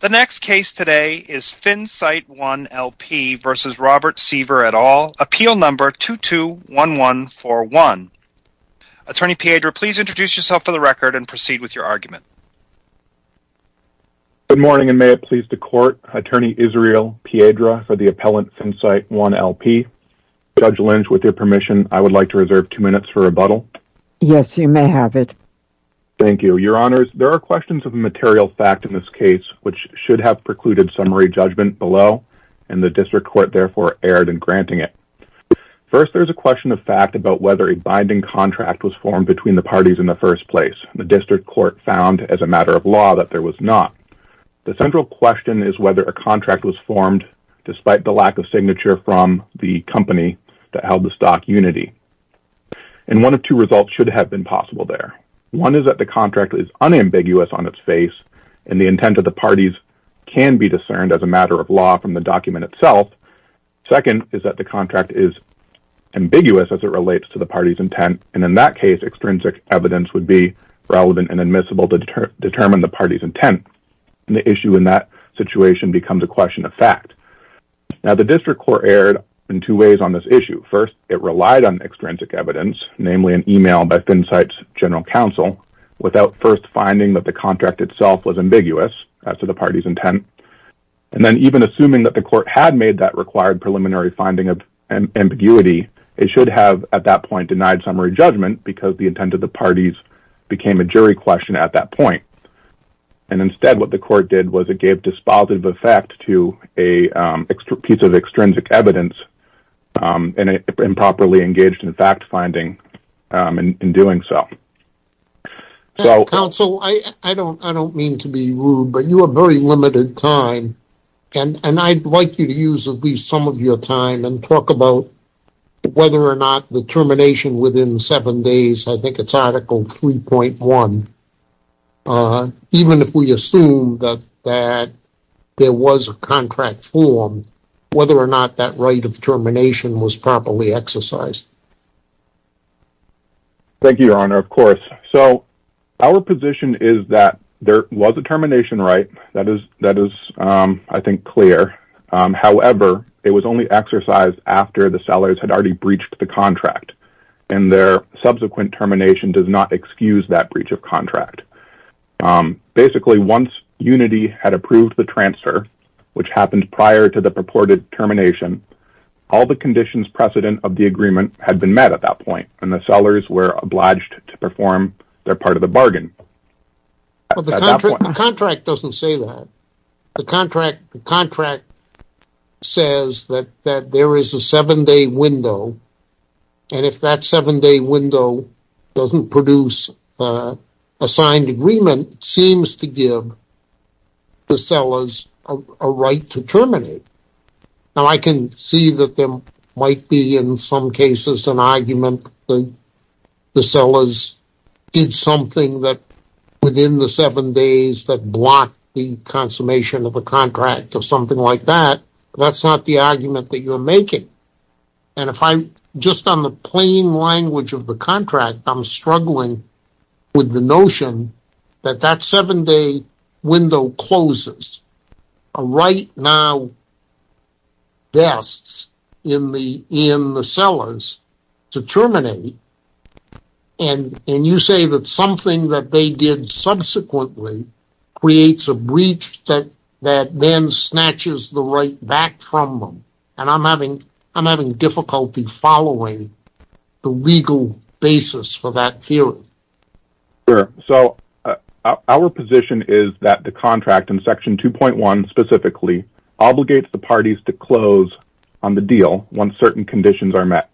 The next case today is FinSight I LP v. Robert Seaver et al, appeal number 221141. Attorney Piedra, please introduce yourself for the record and proceed with your argument. Good morning and may it please the court, Attorney Israel Piedra for the appellant FinSight I LP. Judge Lynch, with your permission, I would like to reserve two minutes for rebuttal. Yes, you may have it. Thank you. Your Honors, there are questions of material fact in this case which should have precluded summary judgment below, and the district court therefore erred in granting it. First, there is a question of fact about whether a binding contract was formed between the parties in the first place. The district court found, as a matter of law, that there was not. The central question is whether a contract was formed despite the lack of signature from the company that held the stock, Unity. And one of two results should have been possible there. One is that the contract is unambiguous on its face, and the intent of the parties can be discerned as a matter of law from the document itself. Second is that the contract is ambiguous as it relates to the party's intent, and in that case, extrinsic evidence would be relevant and admissible to determine the party's intent. And the issue in that situation becomes a question of fact. Now, the district court erred in two ways on this issue. First, it relied on extrinsic evidence, namely an email by FinCite's general counsel, without first finding that the contract itself was ambiguous as to the party's intent. And then even assuming that the court had made that required preliminary finding of ambiguity, it should have at that point denied summary judgment because the intent of the parties became a jury question at that point. And instead, what the court did was it gave dispositive effect to a piece of extrinsic evidence and improperly engaged in fact-finding in doing so. Counsel, I don't mean to be rude, but you have very limited time, and I'd like you to use at least some of your time and talk about whether or not the termination within seven days, I think it's Article 3.1, even if we assume that there was a contract formed, whether or not that right of termination was properly exercised. Thank you, Your Honor. Of course. So our position is that there was a termination right. That is, I think, clear. However, it was only exercised after the sellers had already breached the contract, and their subsequent termination does not excuse that breach of contract. Basically, once Unity had approved the transfer, which happened prior to the purported termination, all the conditions precedent of the agreement had been met at that point, and the sellers were obliged to perform their part of the bargain. The contract doesn't say that. The contract says that there is a seven-day window, and if that seven-day window doesn't produce a signed agreement, it seems to give the sellers a right to terminate. Now, I can see that there might be in some cases an argument that the sellers did something within the seven days that blocked the consummation of the contract or something like that. That's not the argument that you're making. Just on the plain language of the contract, I'm struggling with the notion that that seven-day window closes. A right now desks in the sellers to terminate, and you say that something that they did subsequently creates a breach that then snatches the right back from them. And I'm having difficulty following the legal basis for that theory. Sure. So our position is that the contract in Section 2.1 specifically obligates the parties to close on the deal once certain conditions are met.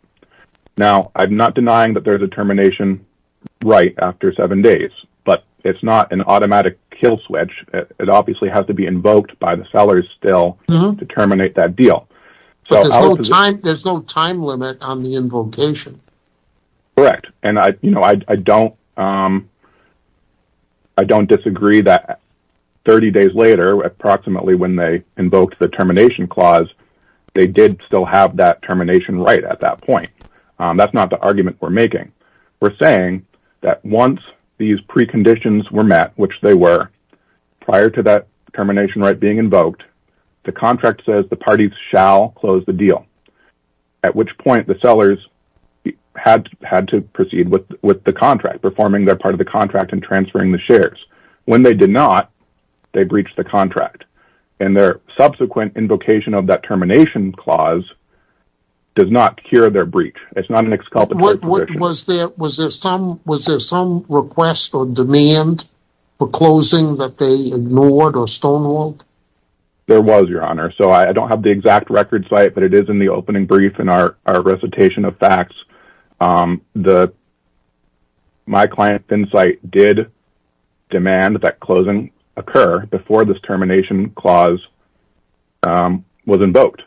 Now, I'm not denying that there's a termination right after seven days, but it's not an automatic kill switch. It obviously has to be invoked by the sellers still to terminate that deal. But there's no time limit on the invocation. Correct, and I don't disagree that 30 days later, approximately when they invoked the termination clause, they did still have that termination right at that point. That's not the argument we're making. We're saying that once these preconditions were met, which they were, prior to that termination right being invoked, the contract says the parties shall close the deal, at which point the sellers had to proceed with the contract, performing their part of the contract and transferring the shares. When they did not, they breached the contract, and their subsequent invocation of that termination clause does not cure their breach. It's not an exculpatory position. Was there some request or demand for closing that they ignored or stonewalled? There was, Your Honor. So I don't have the exact record site, but it is in the opening brief in our recitation of facts. My client, FinCite, did demand that closing occur before this termination clause was invoked.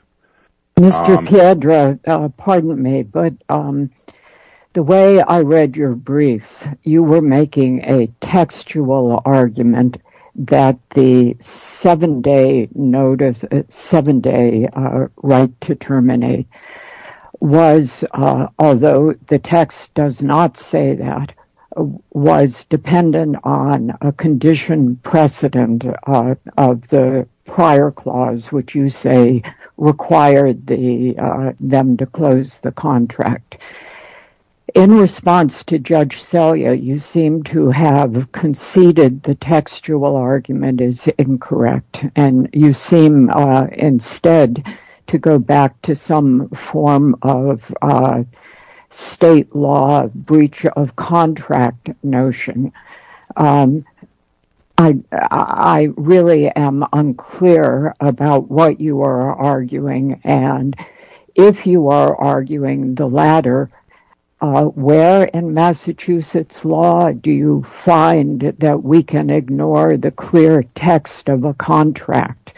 Mr. Piedra, pardon me, but the way I read your briefs, you were making a textual argument that the seven-day right to terminate was, although the text does not say that, was dependent on a condition precedent of the prior clause, which you say required them to close the contract. In response to Judge Selya, you seem to have conceded the textual argument is incorrect, and you seem instead to go back to some form of state law breach of contract notion. I really am unclear about what you are arguing, and if you are arguing the latter, where in Massachusetts law do you find that we can ignore the clear text of a contract?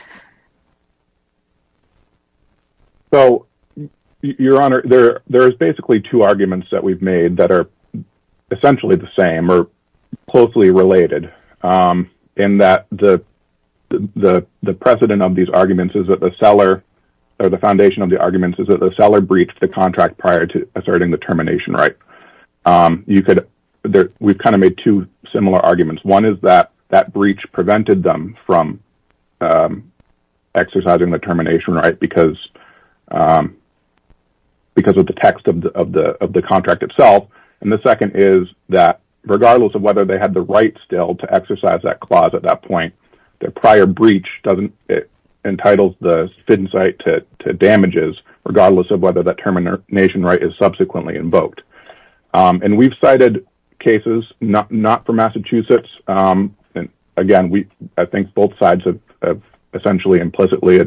So, Your Honor, there are basically two arguments that we've made that are essentially the same or closely related in that the precedent of these arguments is that the seller, or the foundation of the arguments is that the seller breached the contract prior to asserting the termination right. We've kind of made two similar arguments. One is that that breach prevented them from exercising the termination right because of the text of the contract itself, and the second is that regardless of whether they had the right still to exercise that clause at that point, their prior breach entitles the sit-in site to damages regardless of whether that termination right is subsequently invoked. And we've cited cases not from Massachusetts. Again, I think both sides have essentially implicitly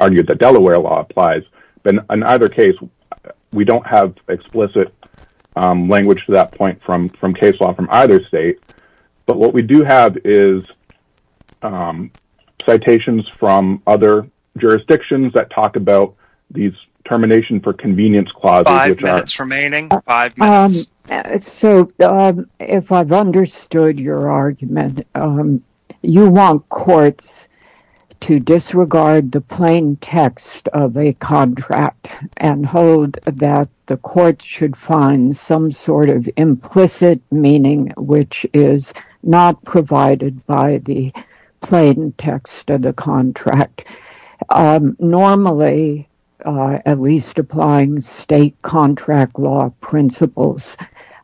argued that Delaware law applies, but in either case, we don't have explicit language to that point from case law from either state, but what we do have is citations from other jurisdictions that talk about these termination for convenience clauses. Five minutes remaining. Five minutes. So, if I've understood your argument, you want courts to disregard the plain text of a contract and hold that the courts should find some sort of implicit meaning which is not provided by the plain text of the contract. Normally, at least applying state contract law principles,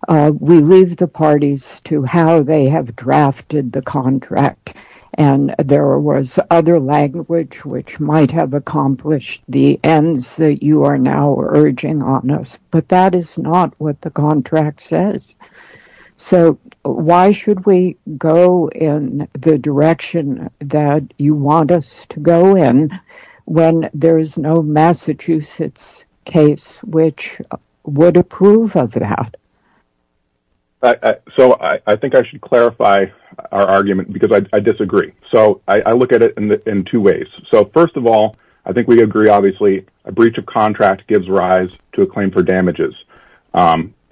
we leave the parties to how they have drafted the contract, and there was other language which might have accomplished the ends that you are now urging on us, but that is not what the contract says. So, why should we go in the direction that you want us to go in when there is no Massachusetts case which would approve of that? So, I think I should clarify our argument because I disagree. So, I look at it in two ways. So, first of all, I think we agree, obviously, a breach of contract gives rise to a claim for damages.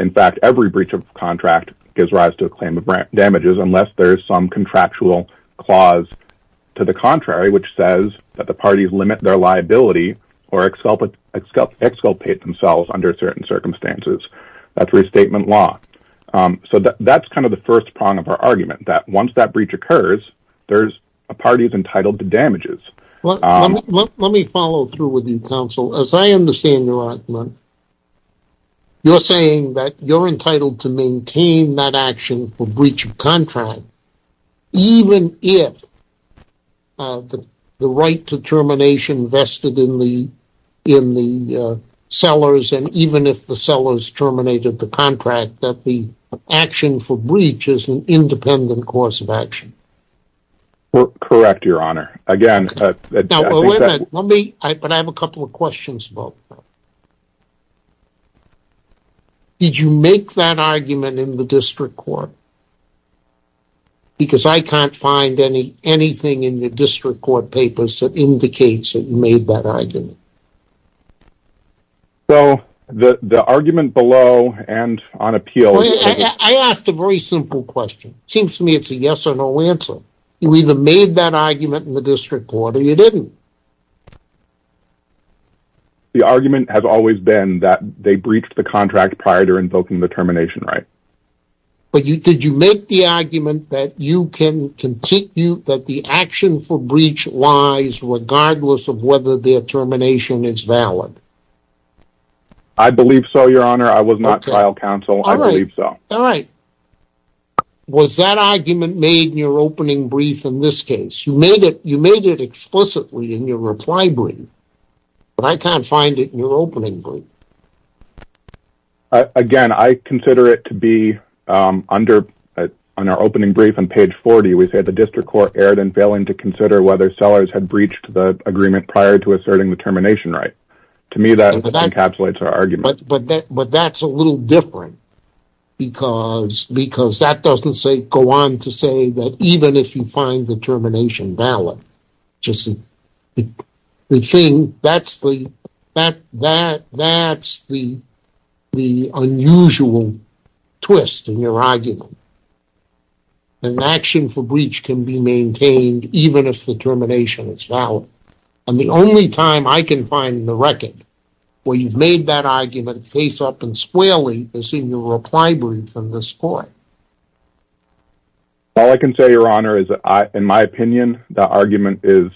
In fact, every breach of contract gives rise to a claim of damages unless there is some contractual clause to the contrary which says that the parties limit their liability or exculpate themselves under certain circumstances. That is restatement law. So, that is kind of the first prong of our argument that once that breach occurs, a party is entitled to damages. Let me follow through with you, counsel. As I understand your argument, you are saying that you are entitled to maintain that action for breach of contract even if the right to termination vested in the sellers and even if the sellers terminated the contract, that the action for breach is an independent course of action. Correct, your honor. But I have a couple of questions about that. Did you make that argument in the district court? Because I can't find anything in the district court papers that indicates that you made that argument. So, the argument below and on appeal... I asked a very simple question. It seems to me it's a yes or no answer. You either made that argument in the district court or you didn't. The argument has always been that they breached the contract prior to invoking the termination right. But did you make the argument that you can continue, that the action for breach lies regardless of whether their termination is valid? I believe so, your honor. I was not trial counsel. I believe so. All right. Was that argument made in your opening brief in this case? You made it explicitly in your reply brief, but I can't find it in your opening brief. Again, I consider it to be under our opening brief on page 40. We say the district court erred in failing to consider whether Sellers had breached the agreement prior to asserting the termination right. To me, that encapsulates our argument. But that's a little different, because that doesn't go on to say that even if you find the termination valid, that's the unusual twist in your argument. An action for breach can be maintained even if the termination is valid. And the only time I can find the record where you've made that argument face up and squarely is in your reply brief in this court. All I can say, your honor, is that in my opinion, that argument is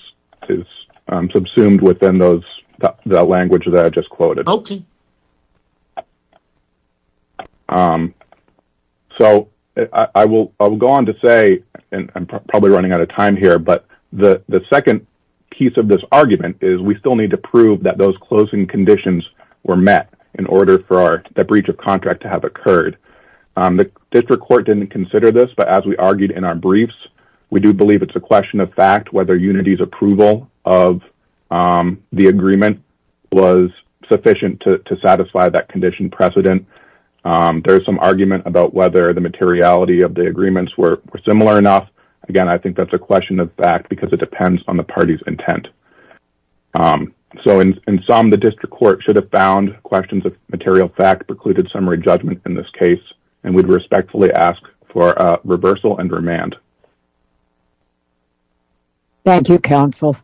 subsumed within the language that I just quoted. Okay. So I will go on to say, and I'm probably running out of time here, but the second piece of this argument is we still need to prove that those closing conditions were met in order for that breach of contract to have occurred. The district court didn't consider this, but as we argued in our briefs, we do believe it's a question of fact whether unity's approval of the agreement was sufficient to satisfy that condition precedent. There is some argument about whether the materiality of the agreements were similar enough. Again, I think that's a question of fact because it depends on the party's intent. So in sum, the district court should have found questions of material fact precluded summary judgment in this case, and we'd respectfully ask for a reversal and remand. Thank you, counsel.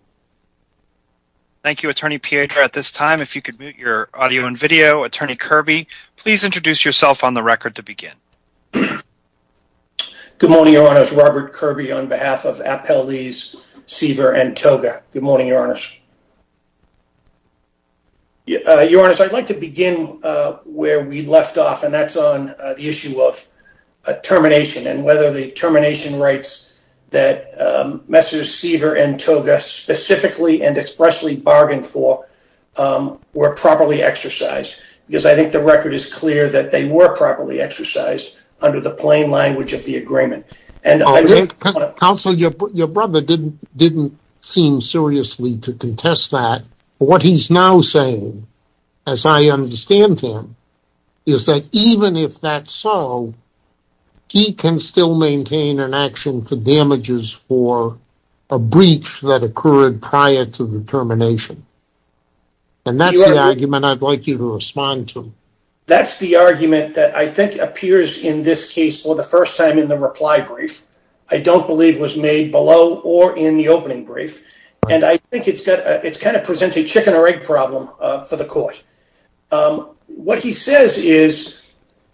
Thank you, Attorney Pietra. At this time, if you could mute your audio and video. Attorney Kirby, please introduce yourself on the record to begin. Good morning, your honors. Robert Kirby on behalf of Appellees Seaver and Toga. Good morning, your honors. Your honors, I'd like to begin where we left off, and that's on the issue of termination and whether the termination rights that Messrs. Seaver and Toga specifically and expressly bargained for were properly exercised, because I think the record is clear that they were properly exercised under the plain language of the agreement. Counsel, your brother didn't seem seriously to contest that. What he's now saying, as I understand him, is that even if that's so, he can still maintain an action for damages for a breach that occurred prior to the termination. And that's the argument I'd like you to respond to. That's the argument that I think appears in this case for the first time in the reply brief. I don't believe was made below or in the opening brief. And I think it's got it's kind of presented chicken or egg problem for the court. What he says is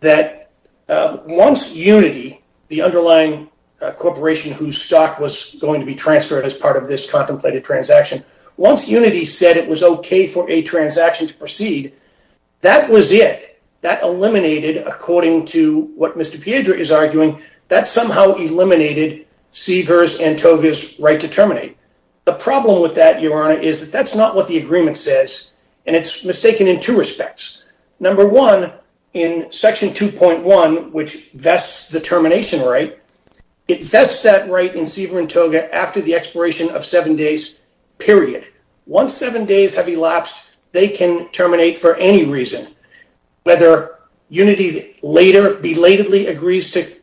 that once unity, the underlying corporation whose stock was going to be transferred as part of this contemplated transaction, once unity said it was OK for a transaction to proceed, that was it. That eliminated, according to what Mr. Piedra is arguing, that somehow eliminated Seaver's and Toga's right to terminate. The problem with that, Your Honor, is that that's not what the agreement says. And it's mistaken in two respects. Number one, in Section 2.1, which vests the termination right, it vests that right in Seaver and Toga after the expiration of seven days, period. Once seven days have elapsed, they can terminate for any reason. Whether unity later belatedly agrees to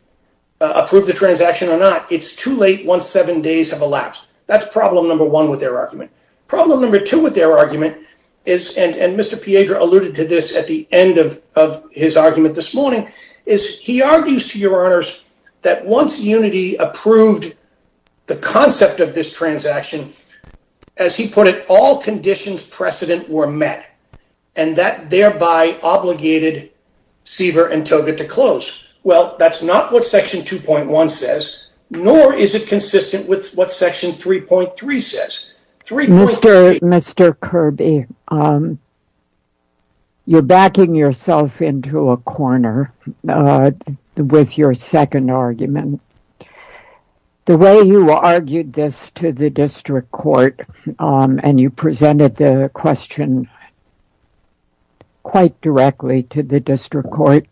approve the transaction or not, it's too late once seven days have elapsed. That's problem number one with their argument. Problem number two with their argument is, and Mr. Piedra alluded to this at the end of his argument this morning, is he argues, to Your Honors, that once unity approved the concept of this transaction, as he put it, all conditions precedent were met. And that thereby obligated Seaver and Toga to close. Well, that's not what Section 2.1 says, nor is it consistent with what Section 3.3 says. Mr. Kirby, you're backing yourself into a corner with your second argument. The way you argued this to the district court and you presented the question quite directly to the district court,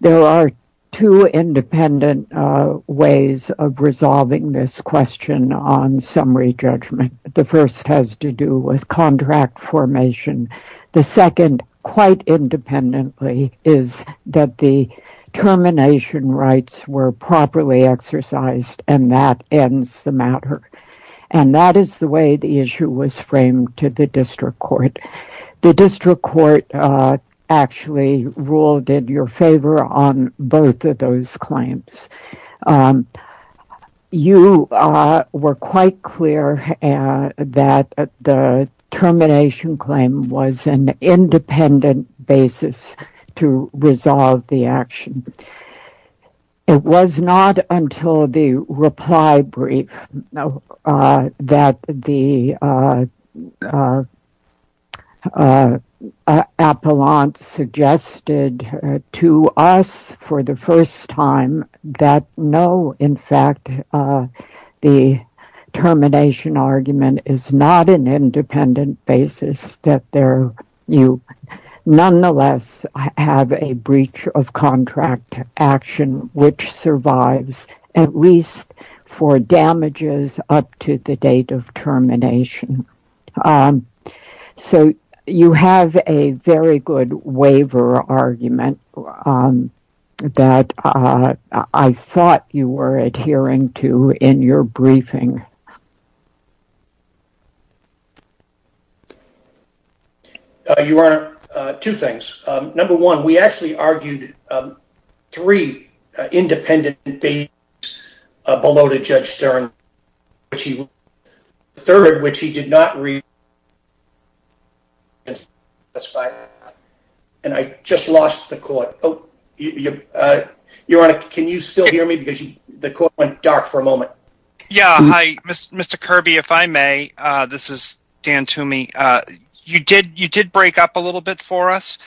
there are two independent ways of resolving this question on summary judgment. The first has to do with contract formation. The second, quite independently, is that the termination rights were properly exercised, and that ends the matter. And that is the way the issue was framed to the district court. The district court actually ruled in your favor on both of those claims. You were quite clear that the termination claim was an independent basis to resolve the action. It was not until the reply brief that the appellant suggested to us for the first time that, no, in fact, the termination argument is not an independent basis, that you nonetheless have a breach of contract action which survives at least for damages up to the date of termination. So you have a very good waiver argument that I thought you were adhering to in your briefing. Your Honor, two things. Number one, we actually argued three independent things below to Judge Stern. The third, which he did not read, and I just lost the court. Your Honor, can you still hear me? The court went dark for a moment. Yeah, hi. Mr. Kirby, if I may, this is Dan Toomey. You did break up a little bit for us.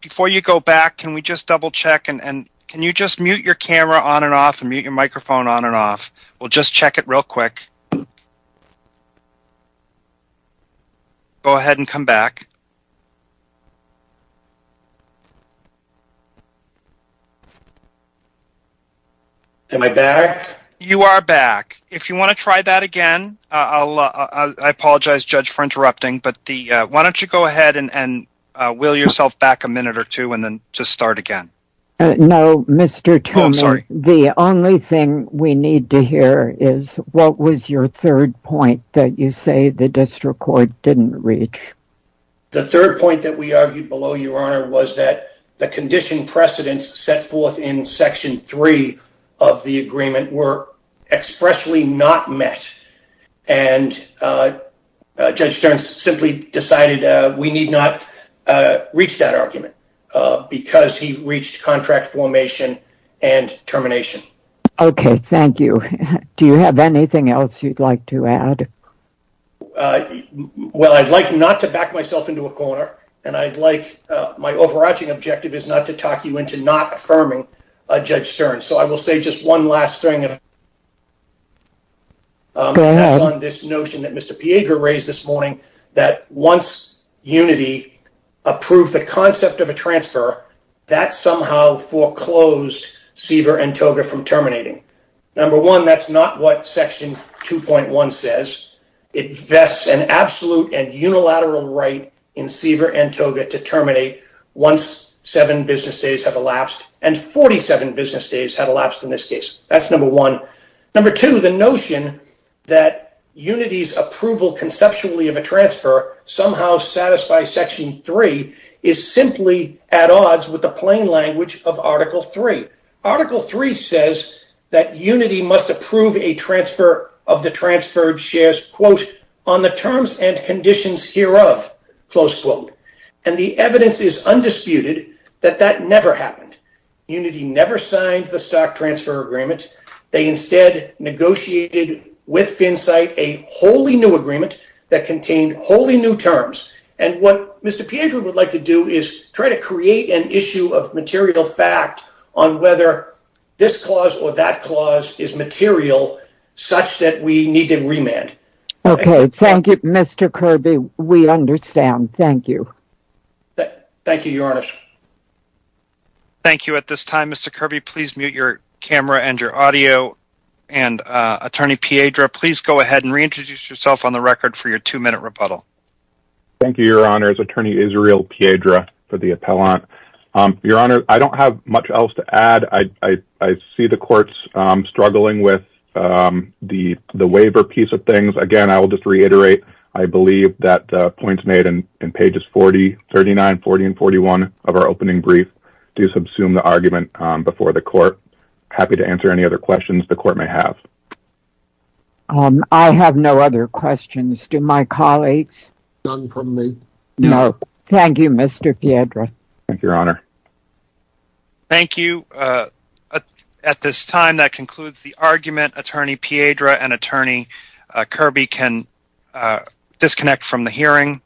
Before you go back, can we just double-check? Can you just mute your camera on and off and mute your microphone on and off? We'll just check it real quick. Go ahead and come back. Am I back? You are back. If you want to try that again, I apologize, Judge, for interrupting, but why don't you go ahead and wheel yourself back a minute or two and then just start again. No, Mr. Toomey. Oh, I'm sorry. The only thing we need to hear is what was your third point that you say the district court didn't reach. The third point that we argued below, Your Honor, was that the condition precedents set forth in Section 3 of the agreement were expressly not met, and Judge Stearns simply decided we need not reach that argument because he reached contract formation and termination. Okay, thank you. Do you have anything else you'd like to add? Well, I'd like not to back myself into a corner, and my overarching objective is not to talk you into not affirming Judge Stearns, so I will say just one last thing on this notion that Mr. Piedra raised this morning, that once Unity approved the concept of a transfer, that somehow foreclosed Seaver and Toga from terminating. Number one, that's not what Section 2.1 says. It vests an absolute and unilateral right in Seaver and Toga to terminate once seven business days have elapsed, and 47 business days have elapsed in this case. That's number one. Number two, the notion that Unity's approval conceptually of a transfer somehow satisfies Section 3 is simply at odds with the plain language of Article 3. Article 3 says that Unity must approve a transfer of the transferred shares, quote, on the terms and conditions hereof, close quote, and the evidence is undisputed that that never happened. Unity never signed the stock transfer agreement. They instead negotiated with FinCite a wholly new agreement that contained wholly new terms, and what Mr. Piedra would like to do is try to create an issue of material fact on whether this clause or that clause is material such that we need to remand. Okay, thank you, Mr. Kirby. We understand. Thank you. Thank you, Your Honor. Thank you. Attorney Piedra, please go ahead and reintroduce yourself on the record for your two-minute rebuttal. Thank you, Your Honor. It's Attorney Israel Piedra for the appellant. Your Honor, I don't have much else to add. I see the court's struggling with the waiver piece of things. Again, I will just reiterate I believe that the points made in pages 40, 39, 40, and 41 of our opening brief do subsume the argument before the court. I'm happy to answer any other questions the court may have. I have no other questions. Do my colleagues? None from me. No. Thank you, Mr. Piedra. Thank you, Your Honor. Thank you. At this time, that concludes the argument. Attorney Piedra and Attorney Kirby can disconnect from the hearing.